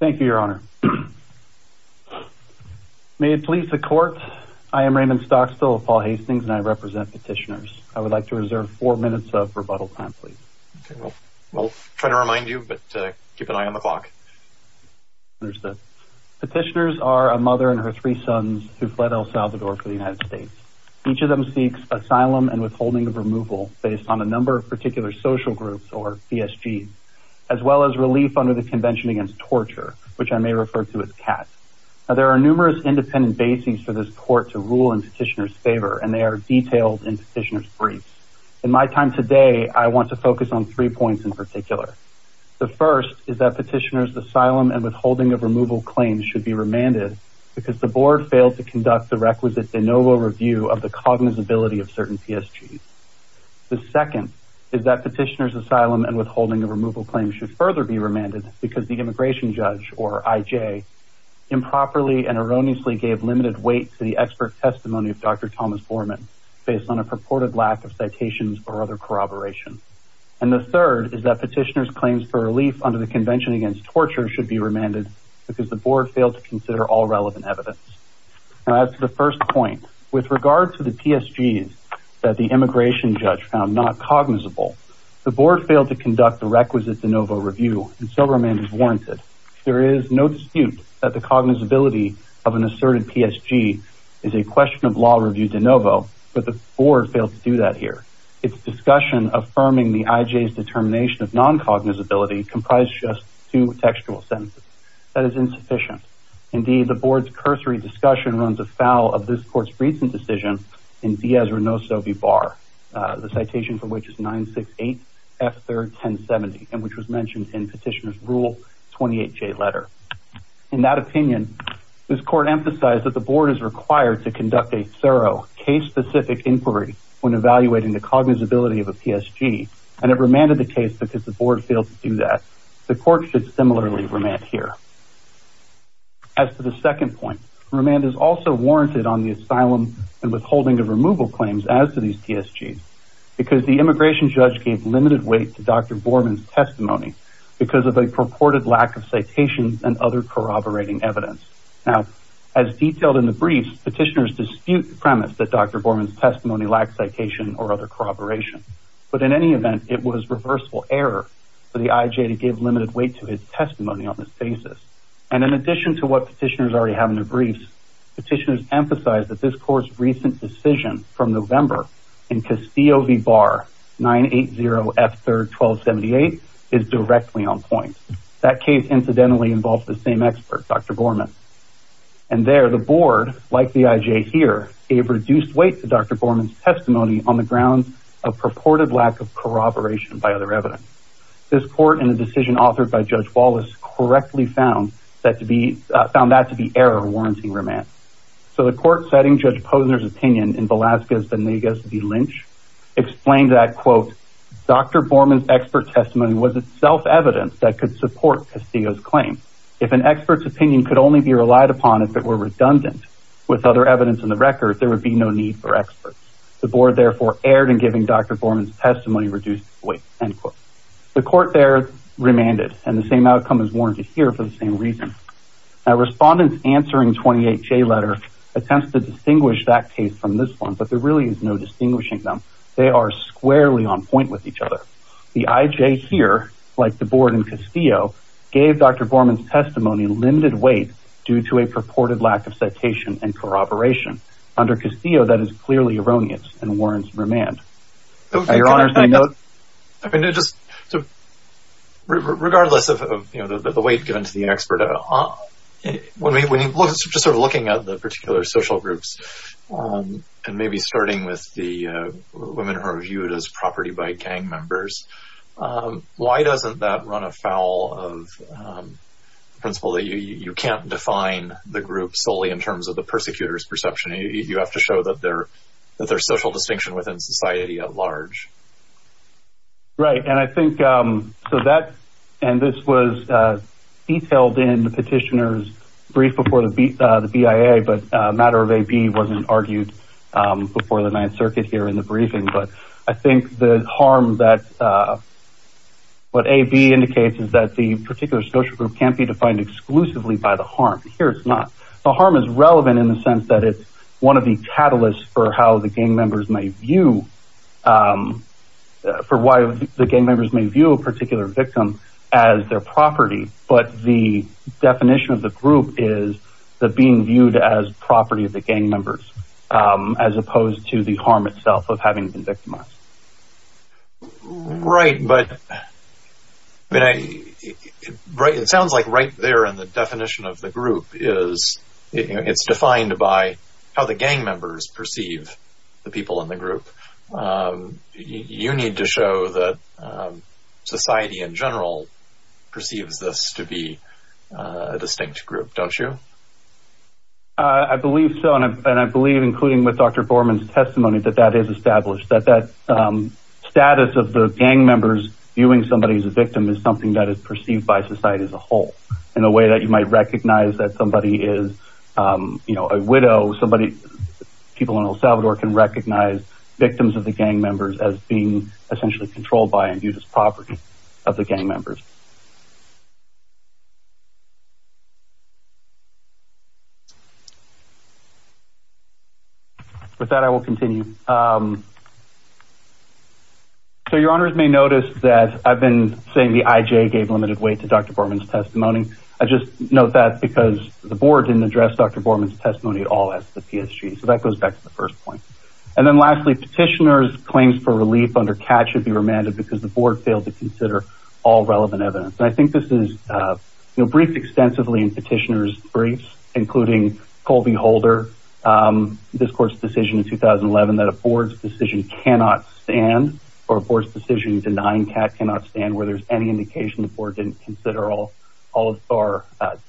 Thank you your honor May it please the court. I am Raymond Stocksville of Paul Hastings and I represent petitioners I would like to reserve four minutes of rebuttal time, please Well, try to remind you but keep an eye on the clock understood Petitioners are a mother and her three sons who fled El Salvador for the United States each of them seeks asylum and withholding of removal based on a number of particular social groups or PSG as Well as relief under the Convention Against Torture, which I may refer to as CATS Now there are numerous independent bases for this court to rule in petitioners favor and they are detailed in petitioners briefs In my time today, I want to focus on three points in particular The first is that petitioners asylum and withholding of removal claims should be remanded Because the board failed to conduct the requisite de novo review of the cognizability of certain PSG The second is that petitioners asylum and withholding of removal claims should further be remanded because the immigration judge or IJ Improperly and erroneously gave limited weight to the expert testimony of dr Thomas Borman based on a purported lack of citations or other corroboration And the third is that petitioners claims for relief under the Convention Against Torture should be remanded Because the board failed to consider all relevant evidence Now that's the first point with regard to the PSG's that the immigration judge found not cognizable The board failed to conduct the requisite de novo review and so remains warranted There is no dispute that the cognizability of an asserted PSG is a question of law review de novo But the board failed to do that here It's discussion affirming the IJ's determination of non cognizability comprised just two textual sentences. That is insufficient Indeed the board's cursory discussion runs afoul of this court's recent decision in Diaz-Renoso v. Barr The citation for which is 968 F. 3rd 1070 and which was mentioned in petitioners rule 28j letter. In that opinion this court emphasized that the board is required to conduct a thorough case-specific Inquiry when evaluating the cognizability of a PSG and it remanded the case because the board failed to do that The court should similarly remand here As for the second point remand is also warranted on the asylum and withholding of removal claims as to these PSG's Because the immigration judge gave limited weight to dr. Borman's testimony because of a purported lack of citations and other corroborating evidence now as Detailed in the briefs petitioners dispute the premise that dr. Borman's testimony lacked citation or other corroboration But in any event it was reversible error for the IJ to give limited weight to his testimony on this basis And in addition to what petitioners already have in their briefs Petitioners emphasize that this court's recent decision from November in Castillo v. Barr 980 F. 3rd 1278 is directly on point that case incidentally involves the same expert dr. Borman and There the board like the IJ here gave reduced weight to dr. Borman's testimony on the grounds of purported lack of That to be found that to be error warranting remand so the court setting judge Posner's opinion in Velasquez Venegas v. Lynch Explained that quote dr. Borman's expert testimony was itself evidence that could support Castillo's claim If an expert's opinion could only be relied upon if it were redundant with other evidence in the record There would be no need for experts the board therefore erred and giving dr. Borman's testimony reduced weight end quote the court there Remanded and the same outcome is warranted here for the same reason now respondents answering 28 J letter Attempts to distinguish that case from this one, but there really is no distinguishing them They are squarely on point with each other the IJ here like the board in Castillo gave dr. Borman's testimony limited weight due to a purported lack of citation and corroboration Under Castillo that is clearly erroneous and warrants remand your honor Regardless of you know that the weight given to the expert at all When we when you look just sort of looking at the particular social groups and maybe starting with the Women who are viewed as property by gang members why doesn't that run afoul of Principle that you you can't define the group solely in terms of the persecutors perception You have to show that there that there's social distinction within society at large Right and I think so that and this was Detailed in the petitioners brief before the beat the BIA, but a matter of a B wasn't argued before the 9th Circuit here in the briefing, but I think the harm that What a B indicates is that the particular social group can't be defined exclusively by the harm here It's not the harm is relevant in the sense that it's one of the catalysts for how the gang members may view For why the gang members may view a particular victim as their property, but the Definition of the group is the being viewed as property of the gang members As opposed to the harm itself of having been victimized Right but but I write it sounds like right there and the definition of the group is It's defined by how the gang members perceive the people in the group You need to show that society in general perceives this to be a distinct group don't you I Believe so and I believe including with dr. Foreman's testimony that that is established that that status of the gang members Viewing somebody as a victim is something that is perceived by society as a whole in a way that you might recognize that somebody is You know a widow somebody People in El Salvador can recognize victims of the gang members as being essentially controlled by and viewed as property of the gang members With that I will continue So your honors may notice that I've been saying the IJ gave limited weight to dr. Borman's testimony I just note that because the board didn't address dr. Borman's testimony at all as the PSG so that goes back to the first point and then lastly Petitioners claims for relief under cat should be remanded because the board failed to consider all relevant evidence I think this is you know briefed extensively in petitioners briefs including Colby Holder This court's decision in 2011 that a board's decision cannot stand or a board's decision denying cat cannot stand where there's any Indication the board didn't consider all all of our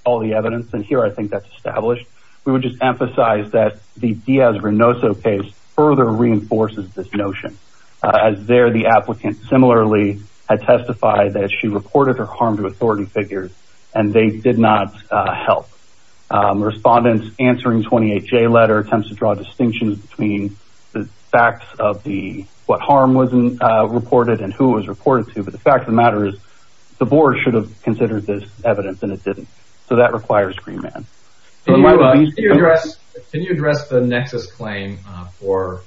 all the evidence and here I think that's established We would just emphasize that the Diaz-Reynoso case further reinforces this notion As there the applicant similarly had testified that she reported her harm to authority figures and they did not help Respondents answering 28 J letter attempts to draw distinctions between the facts of the what harm wasn't Reported and who was reported to but the fact of the matter is the board should have considered this evidence And it didn't so that requires green man Can you address the nexus claim for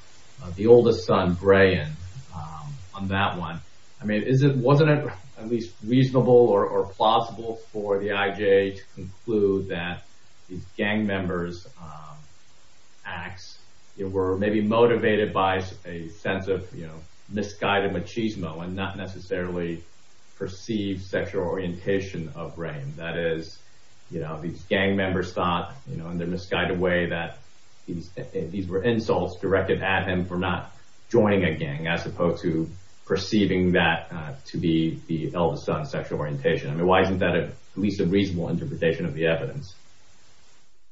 the oldest son Brian On that one. I mean is it wasn't it at least reasonable or plausible for the IJ to conclude that gang members Acts it were maybe motivated by a sense of you know, misguided machismo and not necessarily perceived sexual orientation of brain that is You know these gang members thought you know And they're misguided way that he's these were insults directed at him for not joining a gang as opposed to Perceiving that to be the eldest son sexual orientation. I mean, why isn't that at least a reasonable interpretation of the evidence?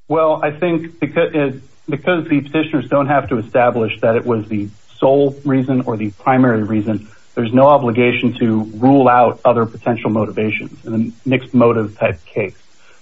Well, I think because it because the petitioners don't have to establish that it was the sole reason or the primary reason There's no obligation to rule out other potential motivations and the next motive type case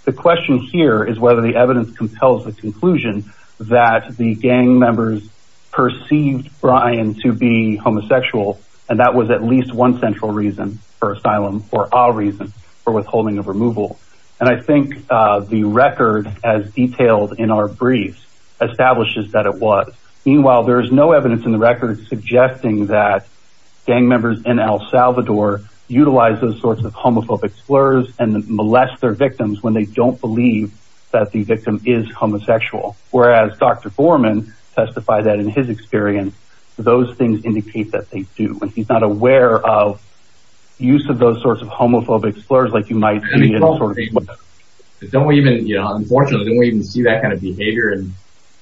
The question here is whether the evidence compels the conclusion that the gang members perceived Brian to be Homosexual and that was at least one central reason for asylum or our reason for withholding of removal And I think the record as detailed in our brief Establishes that it was meanwhile, there is no evidence in the record suggesting that gang members in El Salvador Utilize those sorts of homophobic slurs and molest their victims when they don't believe that the victim is homosexual Whereas dr. Foreman testified that in his experience those things indicate that they do and he's not aware of Use of those sorts of homophobic slurs like you might be Don't even you know, unfortunately, we even see that kind of behavior and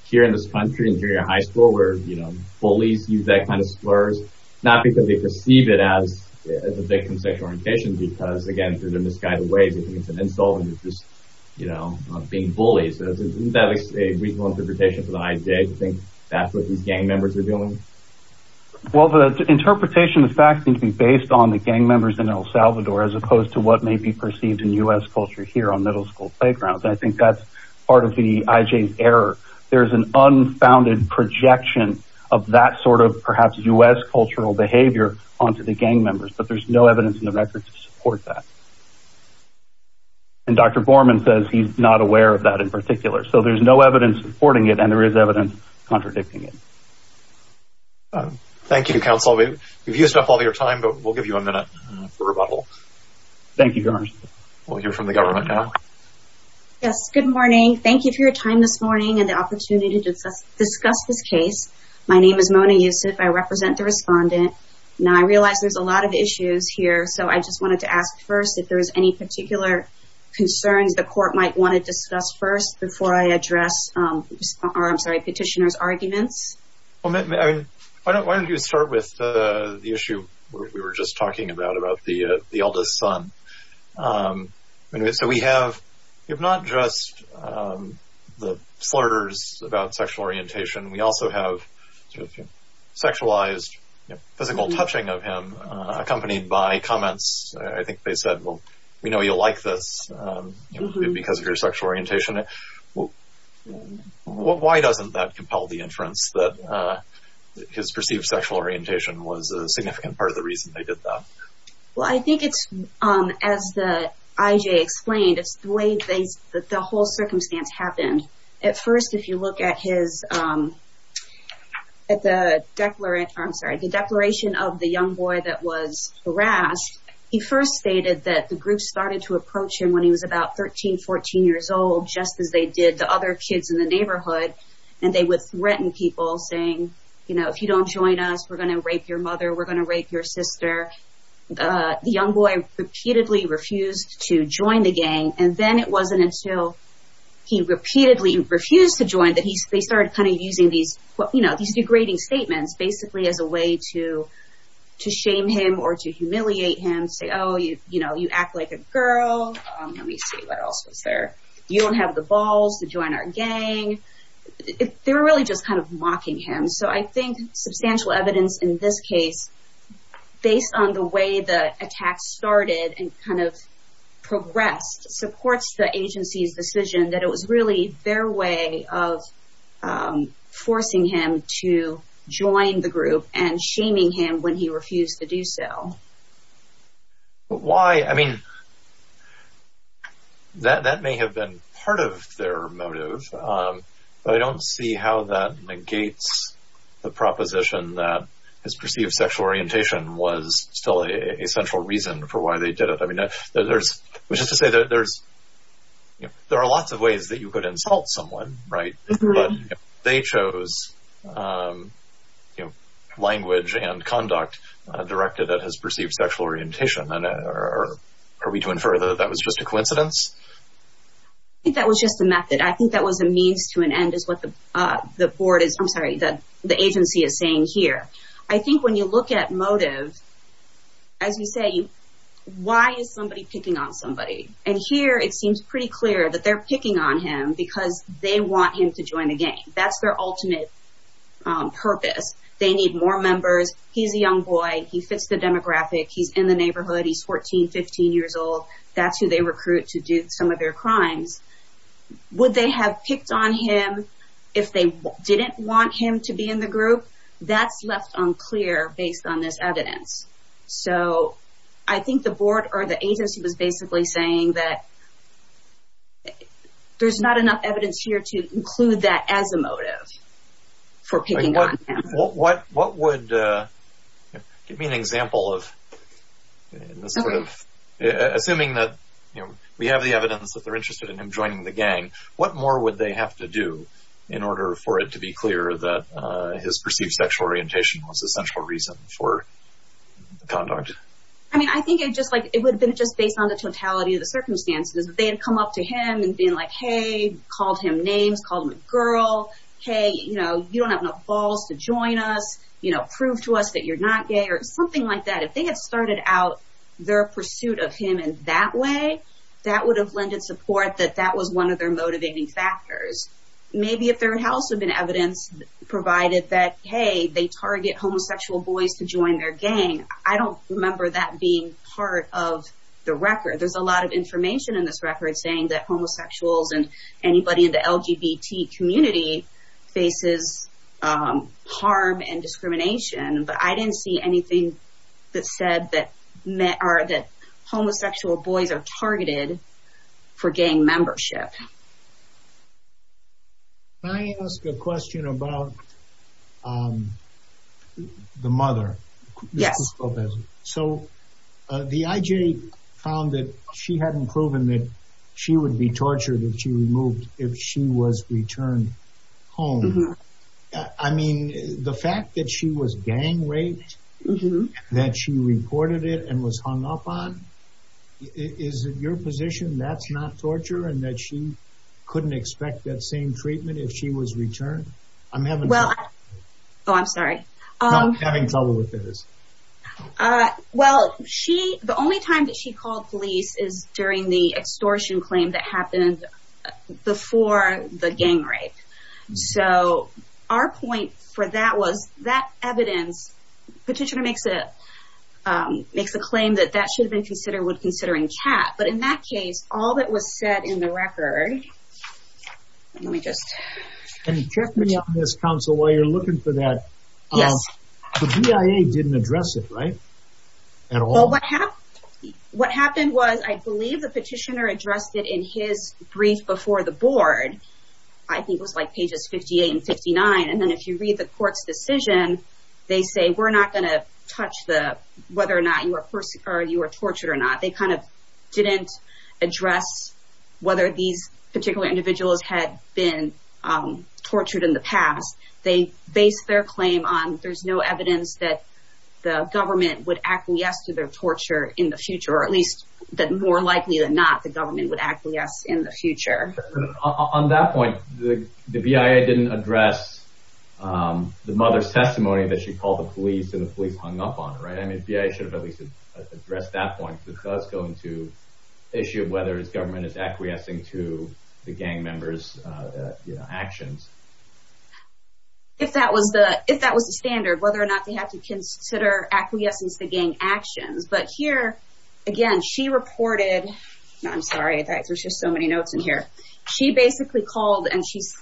here in this country interior high school where you know Bullies use that kind of slurs not because they perceive it as the victim sexual orientation because again through the misguided ways It's an insult and it's just you know being bullies Isn't that a reasonable interpretation for the IJ to think that's what these gang members are doing? Well the Interpretation of fact seem to be based on the gang members in El Salvador as opposed to what may be perceived in u.s Culture here on middle school playgrounds. I think that's part of the IJ's error. There's an unfounded Projection of that sort of perhaps u.s. Cultural behavior onto the gang members, but there's no evidence in the record to support that And dr. Gorman says he's not aware of that in particular so there's no evidence supporting it and there is evidence contradicting it Thank You counsel we've used up all your time, but we'll give you a minute for rebuttal Thank you. Johnny. We'll hear from the government now Yes, good morning. Thank you for your time this morning and the opportunity to discuss this case. My name is Mona Yusuf I represent the respondent now. I realize there's a lot of issues here So I just wanted to ask first if there is any particular Concerns the court might want to discuss first before I address I'm sorry petitioners arguments Why don't you start with the issue we were just talking about about the the eldest son So we have if not just the slurs about sexual orientation we also have Sexualized physical touching of him accompanied by comments. I think they said well, we know you'll like this because of your sexual orientation it Why doesn't that compel the inference that? His perceived sexual orientation was a significant part of the reason they did that Well, I think it's as the IJ explained It's the way things that the whole circumstance happened at first if you look at his At the Declarant, I'm sorry the declaration of the young boy that was harassed He first stated that the group started to approach him when he was about 13 14 years old Just as they did the other kids in the neighborhood and they would threaten people saying, you know, if you don't join us We're gonna rape your mother. We're gonna rape your sister the young boy repeatedly refused to join the gang and then it wasn't until He repeatedly refused to join that he started kind of using these what you know, these degrading statements basically as a way to To shame him or to humiliate him say oh you you know, you act like a girl Let me see what else was there you don't have the balls to join our gang They're really just kind of mocking him. So I think substantial evidence in this case based on the way the attack started and kind of progressed supports the agency's decision that it was really their way of Forcing him to join the group and shaming him when he refused to do so Why I mean That that may have been part of their motive But I don't see how that negates The proposition that his perceived sexual orientation was still a central reason for why they did it I mean, there's which is to say that there's There are lots of ways that you could insult someone right? They chose You know language and conduct Directed that has perceived sexual orientation or are we doing further? That was just a coincidence That was just a method. I think that was a means to an end is what the Board is. I'm sorry that the agency is saying here. I think when you look at motive as you say Why is somebody picking on somebody and here it seems pretty clear that they're picking on him because they want him to join the game That's their ultimate Purpose they need more members. He's a young boy. He fits the demographic. He's in the neighborhood. He's 14 15 years old That's who they recruit to do some of their crimes Would they have picked on him if they didn't want him to be in the group? That's left unclear based on this evidence. So I think the board or the agency was basically saying that There's not enough evidence here to include that as a motive for picking what what what would give me an example of sort of Assuming that you know, we have the evidence that they're interested in him joining the gang What more would they have to do in order for it to be clear that his perceived sexual orientation was a central reason for? Conduct. I mean, I think it just like it would have been just based on the totality of the circumstances They had come up to him and being like hey called him names called him a girl Hey, you know, you don't have enough balls to join us You know prove to us that you're not gay or something like that if they had started out their pursuit of him in that way That would have lended support that that was one of their motivating factors Maybe if their house had been evidence Provided that hey, they target homosexual boys to join their gang. I don't remember that being part of the record There's a lot of information in this record saying that homosexuals and anybody in the LGBT community faces harm and discrimination But I didn't see anything that said that met are that homosexual boys are targeted for gang membership I ask a question about The mother yes so The IJ found that she hadn't proven that she would be tortured if she removed if she was returned home, I Mean the fact that she was gang raped That she reported it and was hung up on Is it your position? That's not torture and that she couldn't expect that same treatment if she was returned. I'm having well I'm sorry Having trouble with this Well, she the only time that she called police is during the extortion claim that happened before the gang rape So our point for that was that evidence petitioner makes it Makes a claim that that should have been considered would considering cat. But in that case all that was said in the record Let me just and check me on this council while you're looking for that. Yes Yeah, I didn't address it, right at all What happened was I believe the petitioner addressed it in his brief before the board? I think was like pages 58 and 59 and then if you read the court's decision They say we're not going to touch the whether or not you are person or you are tortured or not. They kind of didn't address whether these particular individuals had been Tortured in the past they based their claim on there's no evidence that The government would actually ask to their torture in the future or at least that more likely than not the government would actually ask in the future On that point the the BIA didn't address The mother's testimony that she called the police and the police hung up on it, right? I mean, yeah, I should have at least addressed that point because going to Issue of whether his government is acquiescing to the gang members Actions If that was the if that was the standard whether or not they have to consider acquiescence to gang actions, but here again She reported I'm sorry. There's just so many notes in here. She basically called and she's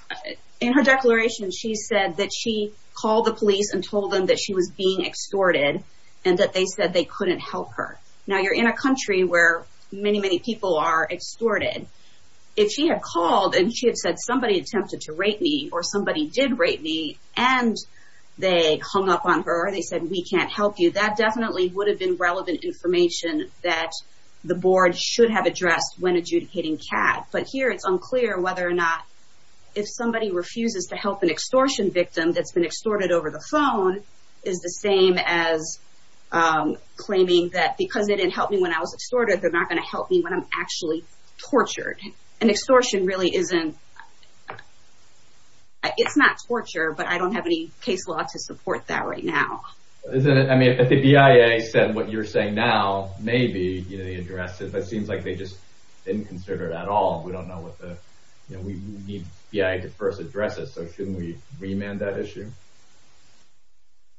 in her declaration She said that she called the police and told them that she was being Extorted and that they said they couldn't help her now You're in a country where many many people are extorted if she had called and she had said somebody attempted to rape me or somebody did rape me and They hung up on her. They said we can't help you that definitely would have been relevant information that The board should have addressed when adjudicating cat, but here it's unclear whether or not if somebody refuses to help an extortion victim that's been extorted over the phone is the same as Claiming that because it didn't help me when I was extorted. They're not going to help me when I'm actually Tortured an extortion really isn't It's not torture, but I don't have any case law to support that right now Isn't it? I mean at the BIA said what you're saying now, maybe you know, they addressed it But seems like they just didn't consider it at all. We don't know what the you know, we need yeah, I could first address it So shouldn't we remand that issue?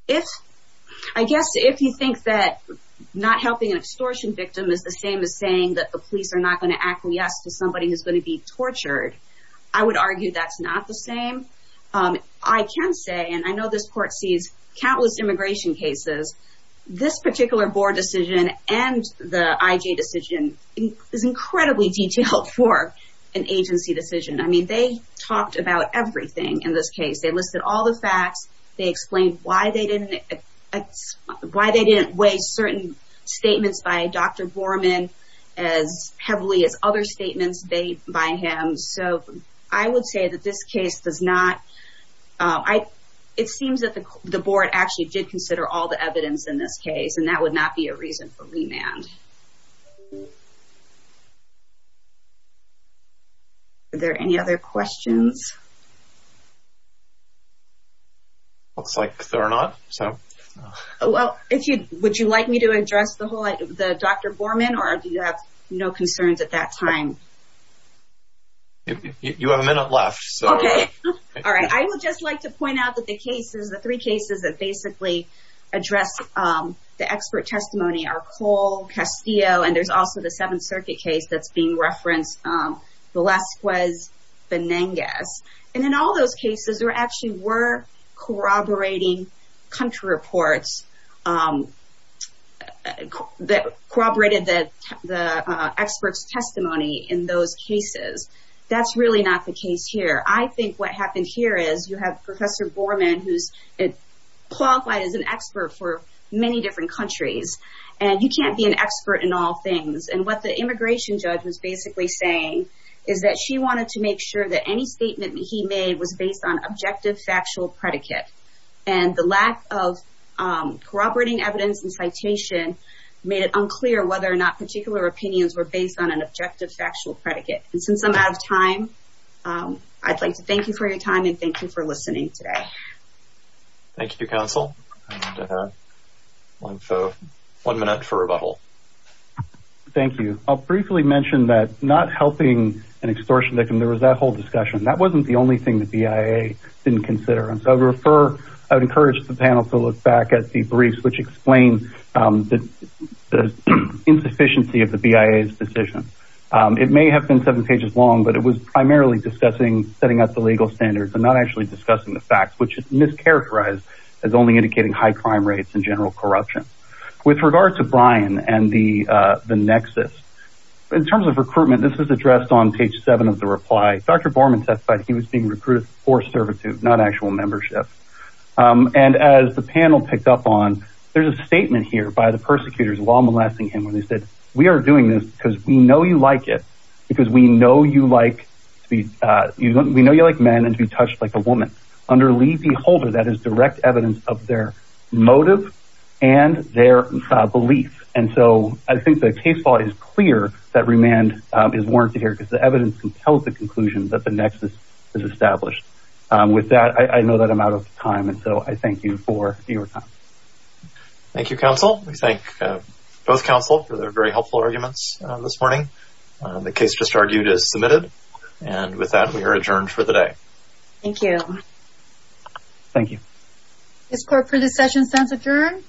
If I guess if you think that Not helping an extortion victim is the same as saying that the police are not going to actually ask to somebody who's going to be tortured I would argue that's not the same I can say and I know this court sees countless immigration cases This particular board decision and the IJ decision is incredibly detailed for an agency decision I mean they talked about everything in this case. They listed all the facts. They explained why they didn't Why they didn't weigh certain statements by dr. Borman as Heavily as other statements they by him. So I would say that this case does not I it seems that the board actually did consider all the evidence in this case and that would not be a reason for remand You Are there any other questions Looks like they're not so Well, if you would you like me to address the whole the dr. Borman or do you have no concerns at that time? You have a minute left, okay All right. I would just like to point out that the cases the three cases that basically Address the expert testimony are Cole Castillo and there's also the Seventh Circuit case that's being referenced the last was Venangas and in all those cases were actually were corroborating country reports That corroborated that the experts testimony in those cases That's really not the case here. I think what happened here is you have professor Borman who's it? Qualified as an expert for many different countries and you can't be an expert in all things and what the immigration judge was basically saying is that she wanted to make sure that any statement that he made was based on objective factual predicate and the lack of corroborating evidence and citation Made it unclear whether or not particular opinions were based on an objective factual predicate and since I'm out of time I'd like to thank you for your time and thank you for listening today Thank You counsel One minute for rebuttal Thank you. I'll briefly mention that not helping an extortion victim. There was that whole discussion That wasn't the only thing that the BIA didn't consider and so refer I would encourage the panel to look back at the briefs which explains the Insufficiency of the BIA's decision It may have been seven pages long But it was primarily discussing setting up the legal standards and not actually discussing the facts which is mischaracterized as only indicating high crime rates in general corruption with regard to Brian and the Nexus in terms of recruitment. This is addressed on page seven of the reply. Dr. Borman testified He was being recruited for servitude not actual membership And as the panel picked up on there's a statement here by the persecutors while molesting him when they said we are doing this because We know you like it because we know you like to be You know, we know you like men and to be touched like a woman under leave the holder. That is direct evidence of their motive and their belief and so I think the case law is clear that remand is warranted here because the evidence can tell the conclusion that The Nexus is established with that. I know that I'm out of time. And so I thank you for your time Thank You counsel. We thank Both counsel for their very helpful arguments this morning The case just argued is submitted and with that we are adjourned for the day. Thank you Thank you. This court for this session stands adjourned